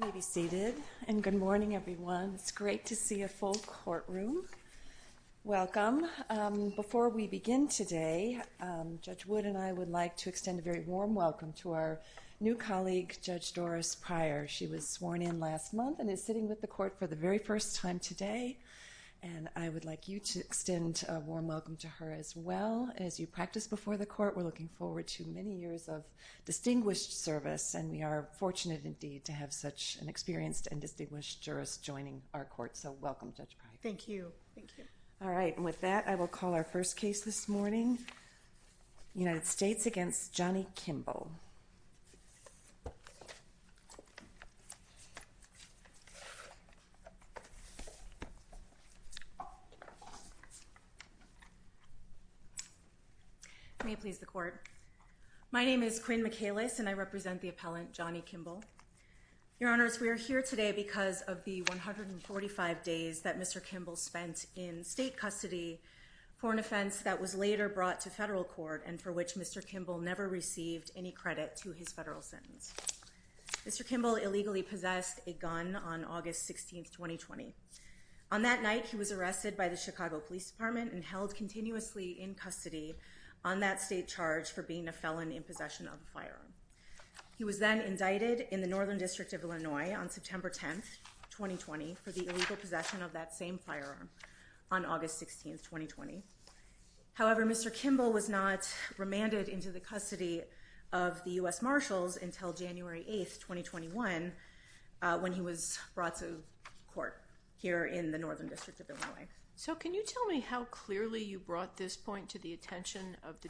May be seated and good morning everyone. It's great to see a full courtroom. Welcome. Before we begin today Judge Wood and I would like to extend a very warm welcome to our new colleague Judge Doris Pryor. She was sworn in last month and is sitting with the court for the very first time today and I would like you to extend a warm welcome to her as well as you practice before the court. We're fortunate indeed to have such an experienced and distinguished jurist joining our court so welcome Judge Pryor. Thank you. All right with that I will call our first case this morning. United States against Johnny Kimble. May it please the court. My name is Quinn McAllis and I represent the appellant Johnny Kimble. Your honors we are here today because of the 145 days that Mr. Kimble spent in state custody for an offense that was later brought to federal court and for which Mr. Kimble never received any credit to his federal sentence. Mr. Kimble illegally possessed a gun on August 16th 2020. On that night he was arrested by the Chicago Police Department and held continuously in custody on that state charge for being a felon in possession of a firearm. He was then indicted in the Northern District of Illinois on September 10th 2020 for the illegal possession of that same firearm on August 16th 2020. However Mr. Kimble was not remanded into the custody of the US Marshals until January 8th 2021 when he was brought to court here in the Northern District of Illinois. So can you tell me how clearly you brought this point to the attention of the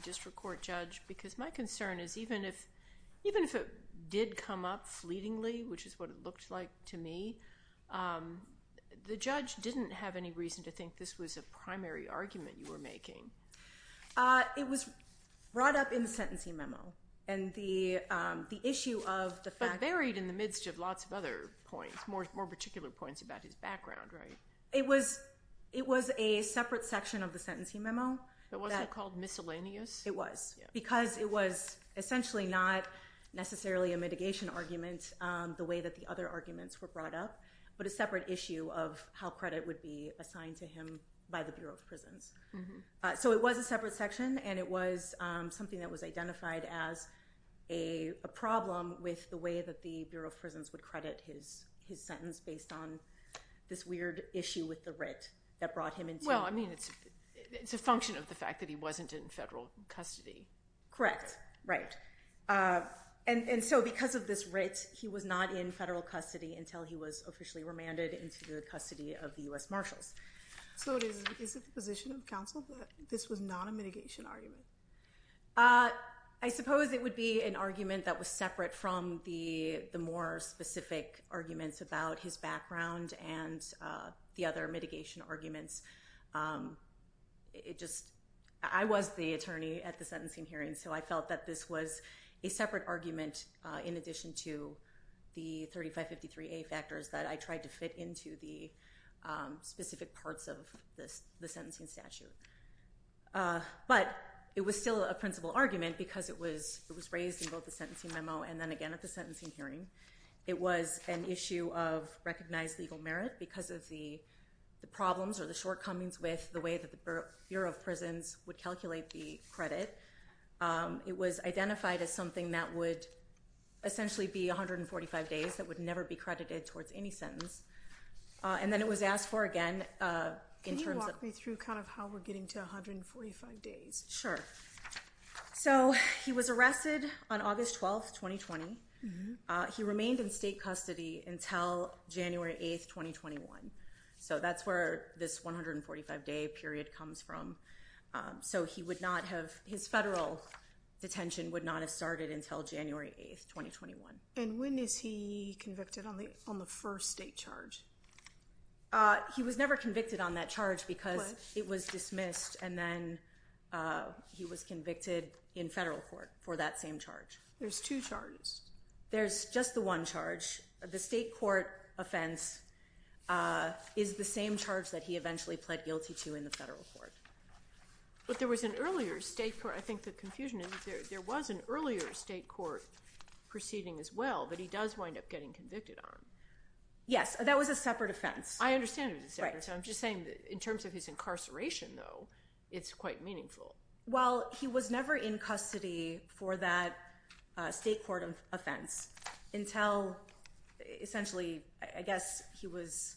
did come up fleetingly which is what it looked like to me. The judge didn't have any reason to think this was a primary argument you were making. It was brought up in the sentencing memo and the the issue of the fact buried in the midst of lots of other points more particular points about his background right. It was it was a separate section of the sentencing memo. It wasn't called miscellaneous. It was because it was essentially not necessarily a mitigation argument the way that the other arguments were brought up but a separate issue of how credit would be assigned to him by the Bureau of Prisons. So it was a separate section and it was something that was identified as a problem with the way that the Bureau of Prisons would credit his his sentence based on this weird issue with the writ that brought him in. Well I mean it's it's a function of the fact that he wasn't in federal custody. Correct. Right. And and so because of this writ he was not in federal custody until he was officially remanded into the custody of the US Marshals. So is it the position of counsel that this was not a mitigation argument? I suppose it would be an argument that was separate from the the more specific arguments about his I was the attorney at the sentencing hearing so I felt that this was a separate argument in addition to the 3553a factors that I tried to fit into the specific parts of this the sentencing statute. But it was still a principal argument because it was it was raised in both the sentencing memo and then again at the sentencing hearing. It was an issue of recognized legal merit because of the the problems or the shortcomings with the way that the Bureau of Prisons would calculate the credit. It was identified as something that would essentially be 145 days that would never be credited towards any sentence. And then it was asked for again. Can you walk me through kind of how we're getting to 145 days? Sure. So he was arrested on August 12, 2020. He remained in state custody until January 8, 2021. So that's where this 145 day period comes from. So he would not have his federal detention would not have started until January 8, 2021. And when is he convicted on the on the first state charge? He was never convicted on that charge because it was dismissed and then he was convicted in federal court for that same charge. There's two charges? There's just the one charge. The state court offense is the same charge that he eventually pled guilty to in the federal court. But there was an earlier state court I think the confusion is there was an earlier state court proceeding as well but he does wind up getting convicted on. Yes that was a separate offense. I understand it. I'm just saying in terms of his incarceration though it's quite meaningful. Well he was never in custody for that state court of offense until essentially I guess he was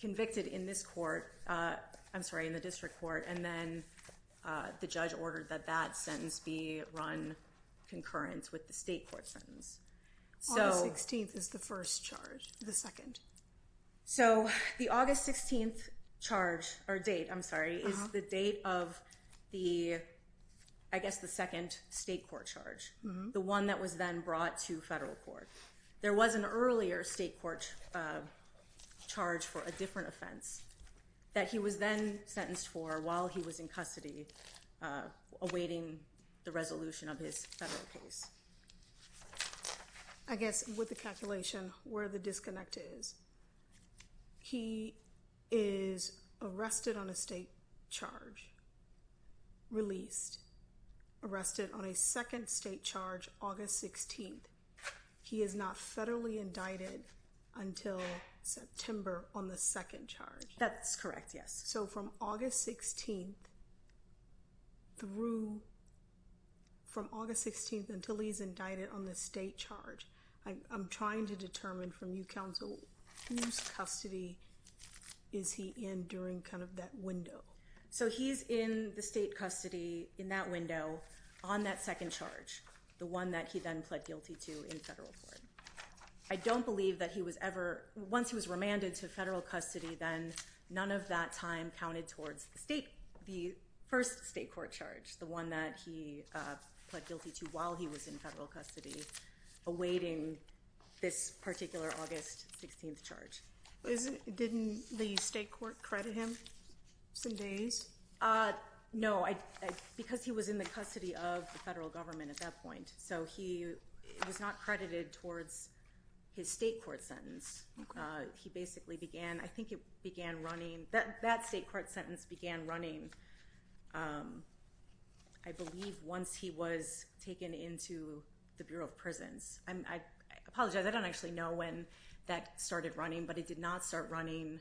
convicted in this court I'm sorry in the district court and then the judge ordered that that sentence be run concurrent with the state court sentence. So August 16th is the first charge. The second. So the August 16th charge or date I'm sorry is the date of the I guess the second state court charge. The one that was then brought to federal court. There was an earlier state court charge for a different offense that he was then sentenced for while he was in custody awaiting the resolution of his federal case. I guess with the calculation where the disconnect is he is arrested on a state charge, released, arrested on a second state charge August 16th. He is not federally indicted until September on the second charge. That's correct yes. So from August 16th through from August 16th until he's indicted on the state charge I'm trying to determine from you counsel whose custody is he in during kind of that window. So he's in the state custody in that window on that second charge. The one that he then pled guilty to in federal court. I don't believe that he was ever once he was remanded to federal custody then none of that time counted towards the state the first state court charge. The one that he pled guilty to while he was in federal custody awaiting this particular August 16th charge. Didn't the state court credit him some days? No I because he was in the custody of the federal government at that point so he was not credited towards his state court sentence. He basically began I think it began running that that state court sentence began running I believe once he was taken into the Bureau of Prisons. I apologize I don't actually know when that started running but it did not start running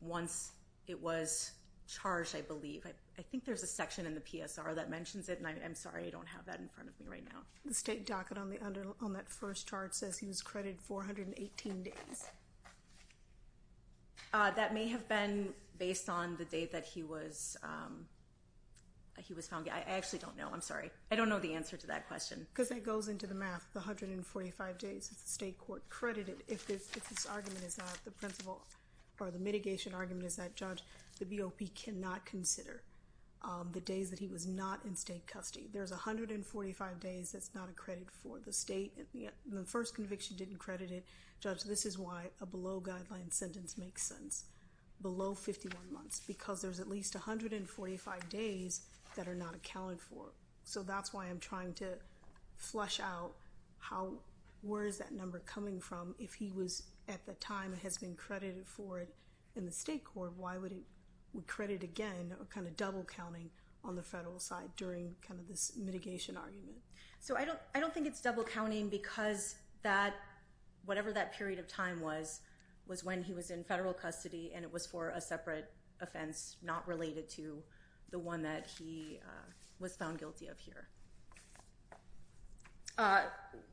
once it was charged I believe. I think there's a section in the PSR that mentions it and I'm sorry I don't have that in front of me right now. The state docket on the under on that first chart says he was credited 418 days. That may have been based on the date that he was he was found. I actually don't know I'm sorry I don't know the answer to that question. Because it goes into the math 145 days the state court credited if this argument is that the principal or the mitigation argument is that judge the BOP cannot consider the days that he was not in state custody. There's a hundred and forty-five days that's not a credit for the state and the first conviction didn't credit it judge this is why a below guideline sentence makes sense. Below 51 months because there's at least a hundred and forty-five days that are not accounted for. So that's why I'm trying to flush out how where is that number coming from if he was at the time it has been credited for it in the state court why would he would credit again or kind of double counting on the federal side during kind of this mitigation argument. So I don't I don't think it's double counting because that whatever that period of time was was when he was in federal custody and it was for a separate offense not related to the one that he was found guilty of here.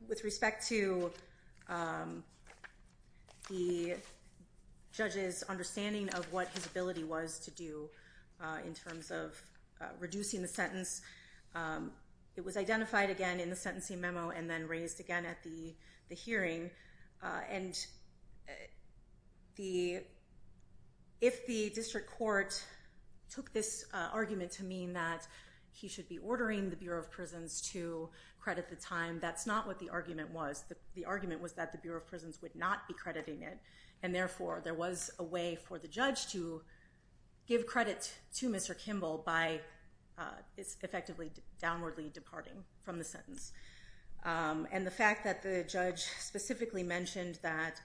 With respect to the judge's understanding of what his ability was to do in terms of reducing the sentence it was identified again in the sentencing memo and then raised again at the hearing and the if the district court took this argument to mean that he should be ordering the Bureau of Prisons to credit the time that's not what the argument was that the argument was that the Bureau of Prisons would not be crediting it and therefore there was a way for the judge to give credit to Mr. Kimball by effectively downwardly departing from the sentence and the fact that the judge specifically mentioned that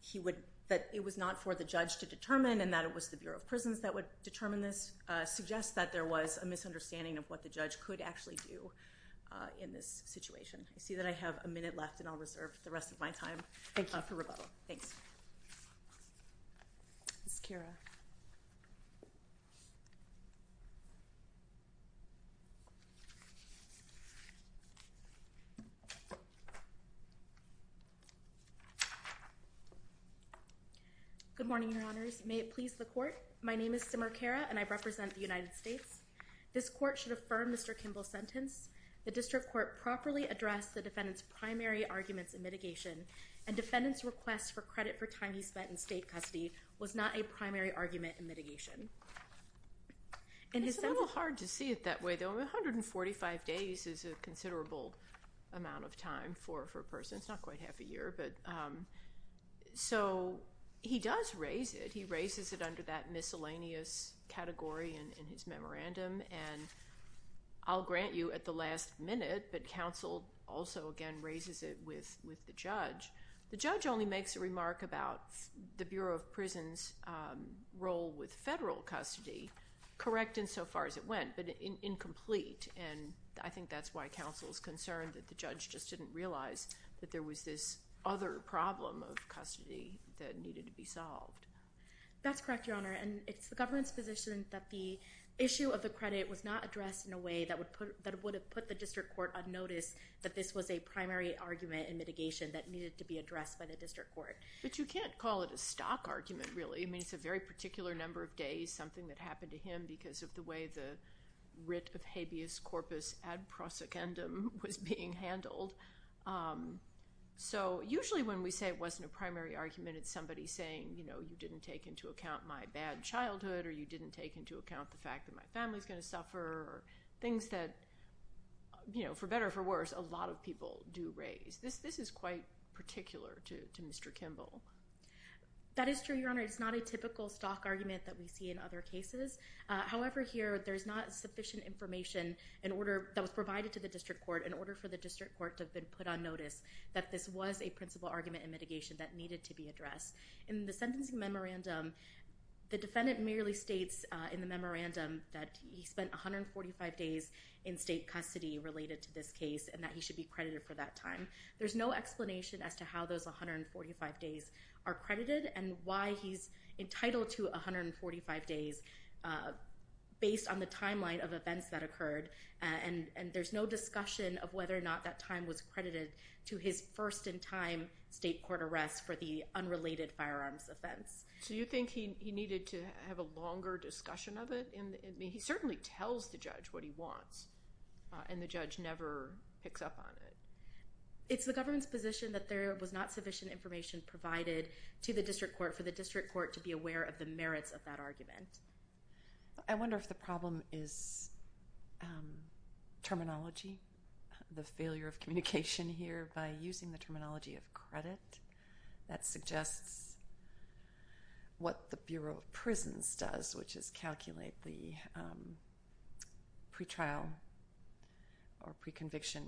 he would that it was not for the judge to determine and that it was the Bureau of Prisons that would determine this suggests that there was a misunderstanding of what the judge could actually do in this situation. I see that I have a minute left and I'll reserve the rest of my time. Thank you. Good morning, Your Honors. May it please the court, my name is Simer Kara and I represent the United States. This court should affirm Mr. Kimball's sentence. The district court properly addressed the defendant's primary arguments in mitigation and defendant's request for credit for time he spent in state custody was not a primary argument in mitigation. It's a little hard to see it that way though. 145 days is a considerable amount of time for a person. It's not quite half a year but so he does raise it. He raises it under that miscellaneous category in his memorandum and I'll grant you at the last minute but counsel also again raises it with with the judge. The judge only makes a remark about the Bureau of Prisons role with federal custody correct insofar as it went but incomplete and I think that's why counsel is concerned that the judge just didn't realize that there was this other problem of custody that needed to be solved. That's correct, Your Honor, and it's the government's position that the issue of the credit was not addressed in a way that would put that would have put the district court on notice that this was a primary argument in mitigation that needed to be addressed by the district court. But you can't call it a stock argument really. I mean it's a very particular number of him because of the way the writ of habeas corpus ad prosecundum was being handled. So usually when we say it wasn't a primary argument it's somebody saying you know you didn't take into account my bad childhood or you didn't take into account the fact that my family's gonna suffer or things that you know for better for worse a lot of people do raise. This is quite particular to Mr. Kimball. That is true, Your Honor. It's not a typical stock argument that we see in other cases. However here there's not sufficient information in order that was provided to the district court in order for the district court to have been put on notice that this was a principal argument in mitigation that needed to be addressed. In the sentencing memorandum the defendant merely states in the memorandum that he spent 145 days in state custody related to this case and that he should be credited for that time. There's no explanation as to how those 145 days are credited and why he's entitled to 145 days based on the timeline of events that occurred and and there's no discussion of whether or not that time was credited to his first in time state court arrest for the unrelated firearms offense. So you think he needed to have a longer discussion of it? I mean he certainly tells the judge what he wants and the judge never picks up on it. It's the government's position that there was not sufficient information provided to the district court for the district court to be aware of the merits of that argument. I wonder if the problem is terminology, the failure of communication here by using the terminology of credit that suggests what the Bureau of Prisons does which is calculate the pretrial or pre-conviction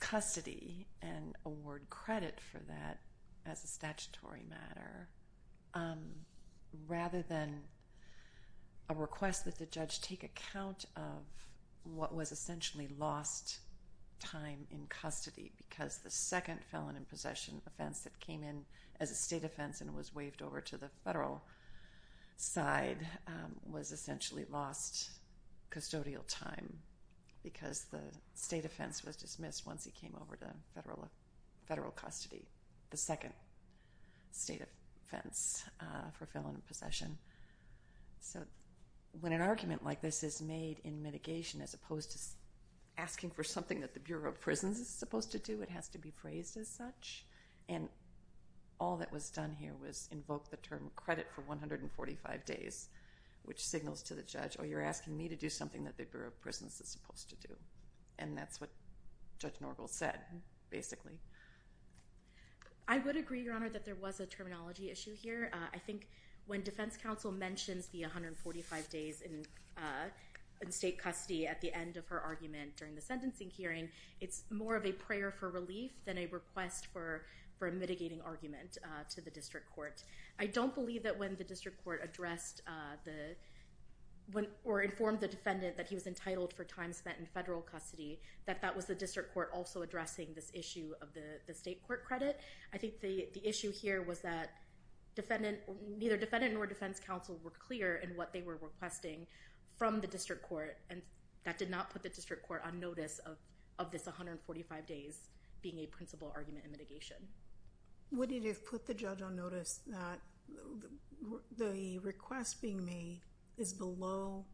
custody and award credit for that as a statutory matter rather than a request that the judge take account of what was essentially lost time in custody because the second felon in possession offense that came in as a state offense and was waived over to the federal side was essentially lost custodial time because the state offense was dismissed once he came over to federal custody, the second state offense for felon in possession. So when an argument like this is made in mitigation as opposed to asking for something that the Bureau of Prisons is supposed to do it has to be phrased as such and all that was done here was invoke the term credit for 145 days which signals to the judge oh you're asking me to do something that the Bureau of Prisons is supposed to do and that's what Judge Norville said basically. I would agree your honor that there was a terminology issue here. I think when defense counsel mentions the 145 days in state custody at the end of her argument during the sentencing hearing it's more of a prayer for relief than a request for for a mitigating argument to the district court. I don't believe that when the district court addressed the when or informed the defendant that he was entitled for time spent in federal custody that that was the district court also addressing this issue of the the state court credit. I think the the issue here was that defendant neither defendant nor defense counsel were clear in what they were requesting from the district court and that did not put the district court on notice of of this 145 days being a principal argument in mitigation. What if you put the judge on notice that the request being made is below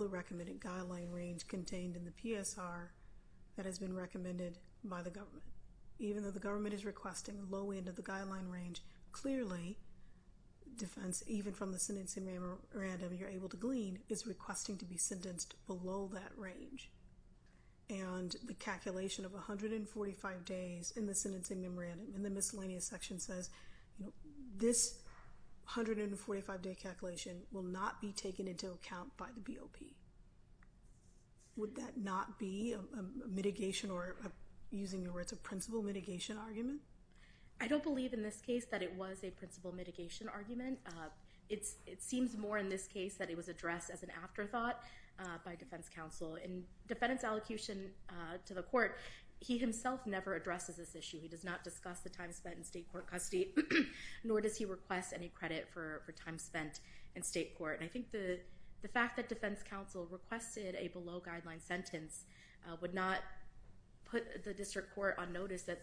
the recommended guideline range contained in the PSR that has been recommended by the government even though the government is requesting low end of the guideline range clearly defense even from the sentencing memorandum you're able to glean is requesting to be sentenced below that range and the calculation of a hundred and forty five days in the sentencing memorandum in the miscellaneous section says this hundred and forty five day calculation will not be taken into account by the BOP. Would that not be a mitigation or using the words of principal mitigation argument? I don't believe in this case that it was a principal mitigation argument. It's it seems more in this case that it was addressed as an afterthought by defense counsel in defendant's allocation to the court he himself never addresses this issue he does not discuss the time spent in state court custody nor does he request any credit for time spent in the fact that defense counsel requested a below guideline sentence would not put the district court on notice that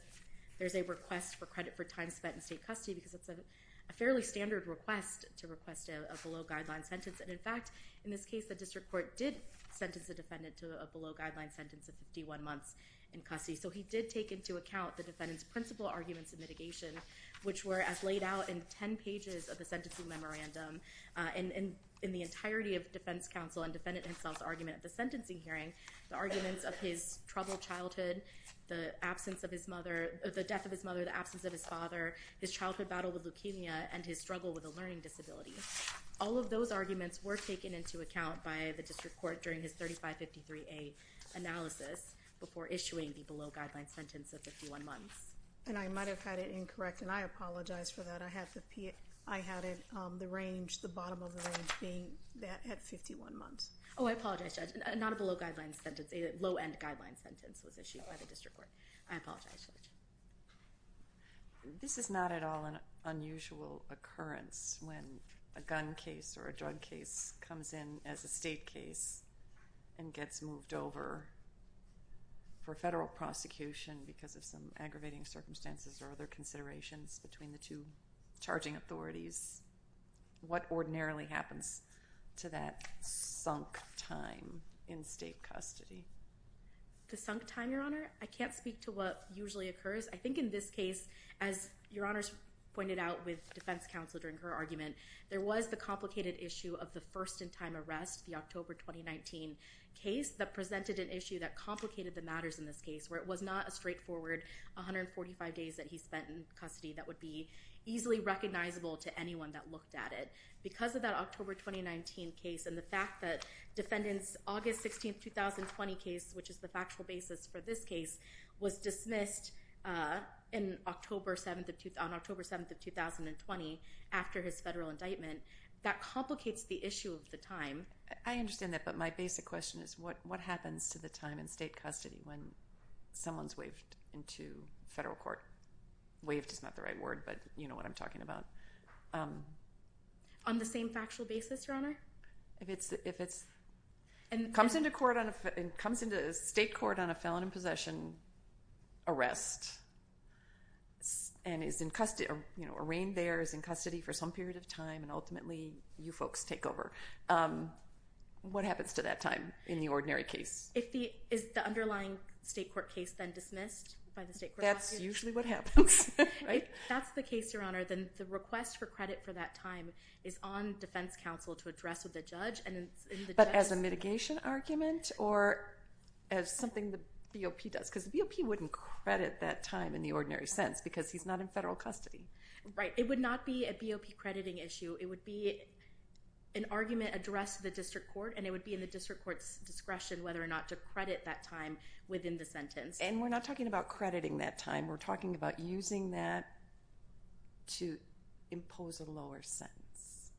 there's a request for credit for time spent in state custody because it's a fairly standard request to request a below guideline sentence and in fact in this case the district court did sentence the defendant to a below guideline sentence of 51 months in custody so he did take into account the defendant's principal arguments in mitigation which were as laid out in ten pages of the sentencing memorandum and in the entirety of defense counsel and defendant himself's argument at the sentencing hearing the arguments of his troubled childhood the absence of his mother the death of his mother the absence of his father his childhood battle with leukemia and his struggle with a learning disability all of those arguments were taken into account by the district court during his 3553 a analysis before issuing the below guideline sentence of 51 months and I might have had it incorrect and I apologize for that I had to pee it I had the range the bottom of the range being that at 51 months oh I apologize not a below guideline sentence a low-end guideline sentence was issued by the district court I apologize this is not at all an unusual occurrence when a gun case or a drug case comes in as a state case and gets moved over for federal prosecution because of some aggravating circumstances or other considerations between the two charging authorities what ordinarily happens to that sunk time in state custody the sunk time your honor I can't speak to what usually occurs I think in this case as your honors pointed out with defense counsel during her argument there was the complicated issue of the first in time arrest the October 2019 case that presented an issue that complicated the matters in this case where it was not a straightforward 145 days that he spent in custody that would be easily recognizable to anyone that looked at it because of that October 2019 case and the fact that defendants August 16th 2020 case which is the factual basis for this case was dismissed in October 7th of to town October 7th of 2020 after his federal indictment that complicates the issue of the time I understand that but my basic question is what what happens to the time in state custody when someone's waived into federal court waived is not the right word but you know what I'm talking about on the same factual basis your honor if it's if it's and comes into court on it comes into state court on a felon in possession arrest and is in custody you know arraigned there is in custody for some period of time and ultimately you folks take over what happens to that time in the ordinary case if the is the underlying state court case then dismissed by the state that's usually what happens right that's the case your honor then the request for credit for that time is on defense counsel to address with the judge and but as a mitigation argument or as something the BOP does because the BOP wouldn't credit that time in the ordinary sense because he's not in federal custody right it would not be a address the district court and it would be in the district courts discretion whether or not to credit that time within the sentence and we're not talking about crediting that time we're talking about using that to impose a lower sentence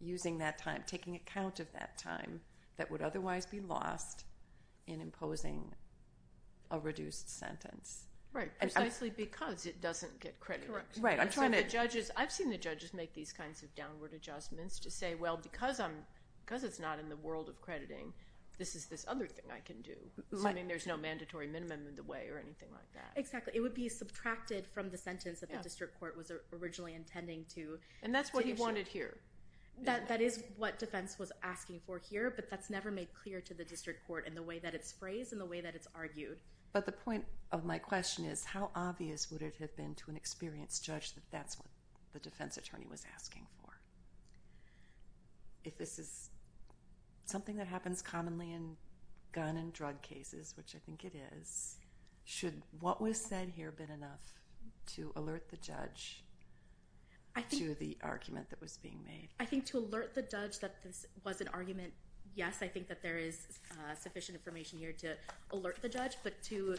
using that time taking account of that time that would otherwise be lost in imposing a reduced sentence right precisely because it doesn't get credit right I'm trying to judges I've seen the judges make these because it's not in the world of crediting this is this other thing I can do I mean there's no mandatory minimum in the way or anything like that exactly it would be subtracted from the sentence that the district court was originally intending to and that's what he wanted here that that is what defense was asking for here but that's never made clear to the district court in the way that it's phrased in the way that it's argued but the point of my question is how obvious would it have been to an experienced judge that that's what the something that happens commonly in gun and drug cases which I think it is should what was said here been enough to alert the judge I do the argument that was being made I think to alert the judge that this was an argument yes I think that there is sufficient information here to alert the judge but to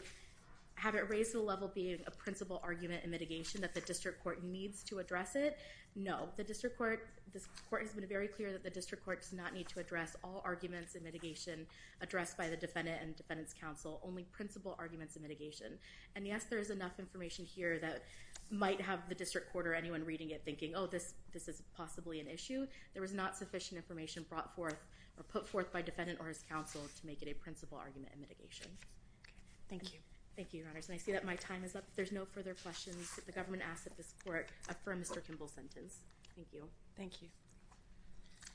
have it raised to the level being a principal argument and mitigation that the district court needs to address it no the district court this court has very clear that the district court does not need to address all arguments and mitigation addressed by the defendant and defendants counsel only principal arguments of mitigation and yes there is enough information here that might have the district court or anyone reading it thinking oh this this is possibly an issue there was not sufficient information brought forth or put forth by defendant or his counsel to make it a principal argument and mitigation thank you thank you I see that my time is up there's no further questions that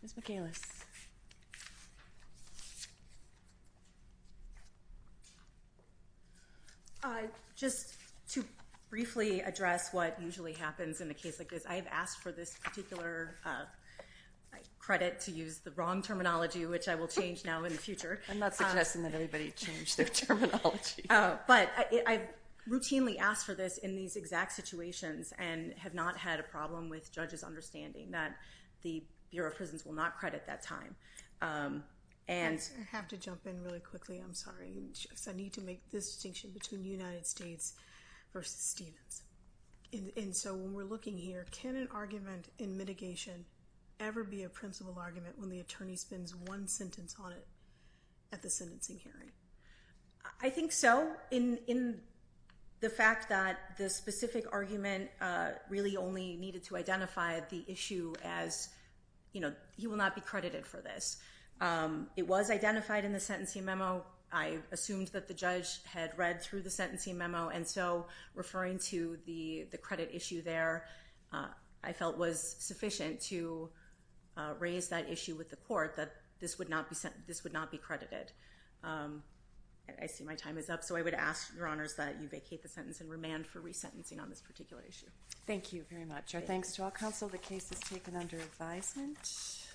the Michaela's I just to briefly address what usually happens in the case like this I have asked for this particular credit to use the wrong terminology which I will change now in the future I'm not suggesting that everybody changed their terminology oh but I routinely asked for this in these exact situations and have not had a problem with judges understanding that the Bureau of Prisons will not credit that time and have to jump in really quickly I'm sorry I need to make this distinction between United States versus Stevens in so when we're looking here can an argument in mitigation ever be a principal argument when the attorney spends one sentence on it at the sentencing hearing I think so in in the fact that the specific argument really only needed to identify the issue as you know he will not be credited for this it was identified in the sentencing memo I assumed that the judge had read through the sentencing memo and so referring to the the credit issue there I felt was sufficient to raise that issue with the court that this would not be sent this would not be credited I see my time is up so I would ask your honors that you vacate the sentence and remand for resentencing on this particular issue thank you very much our thanks to all counsel the case is taken under advisement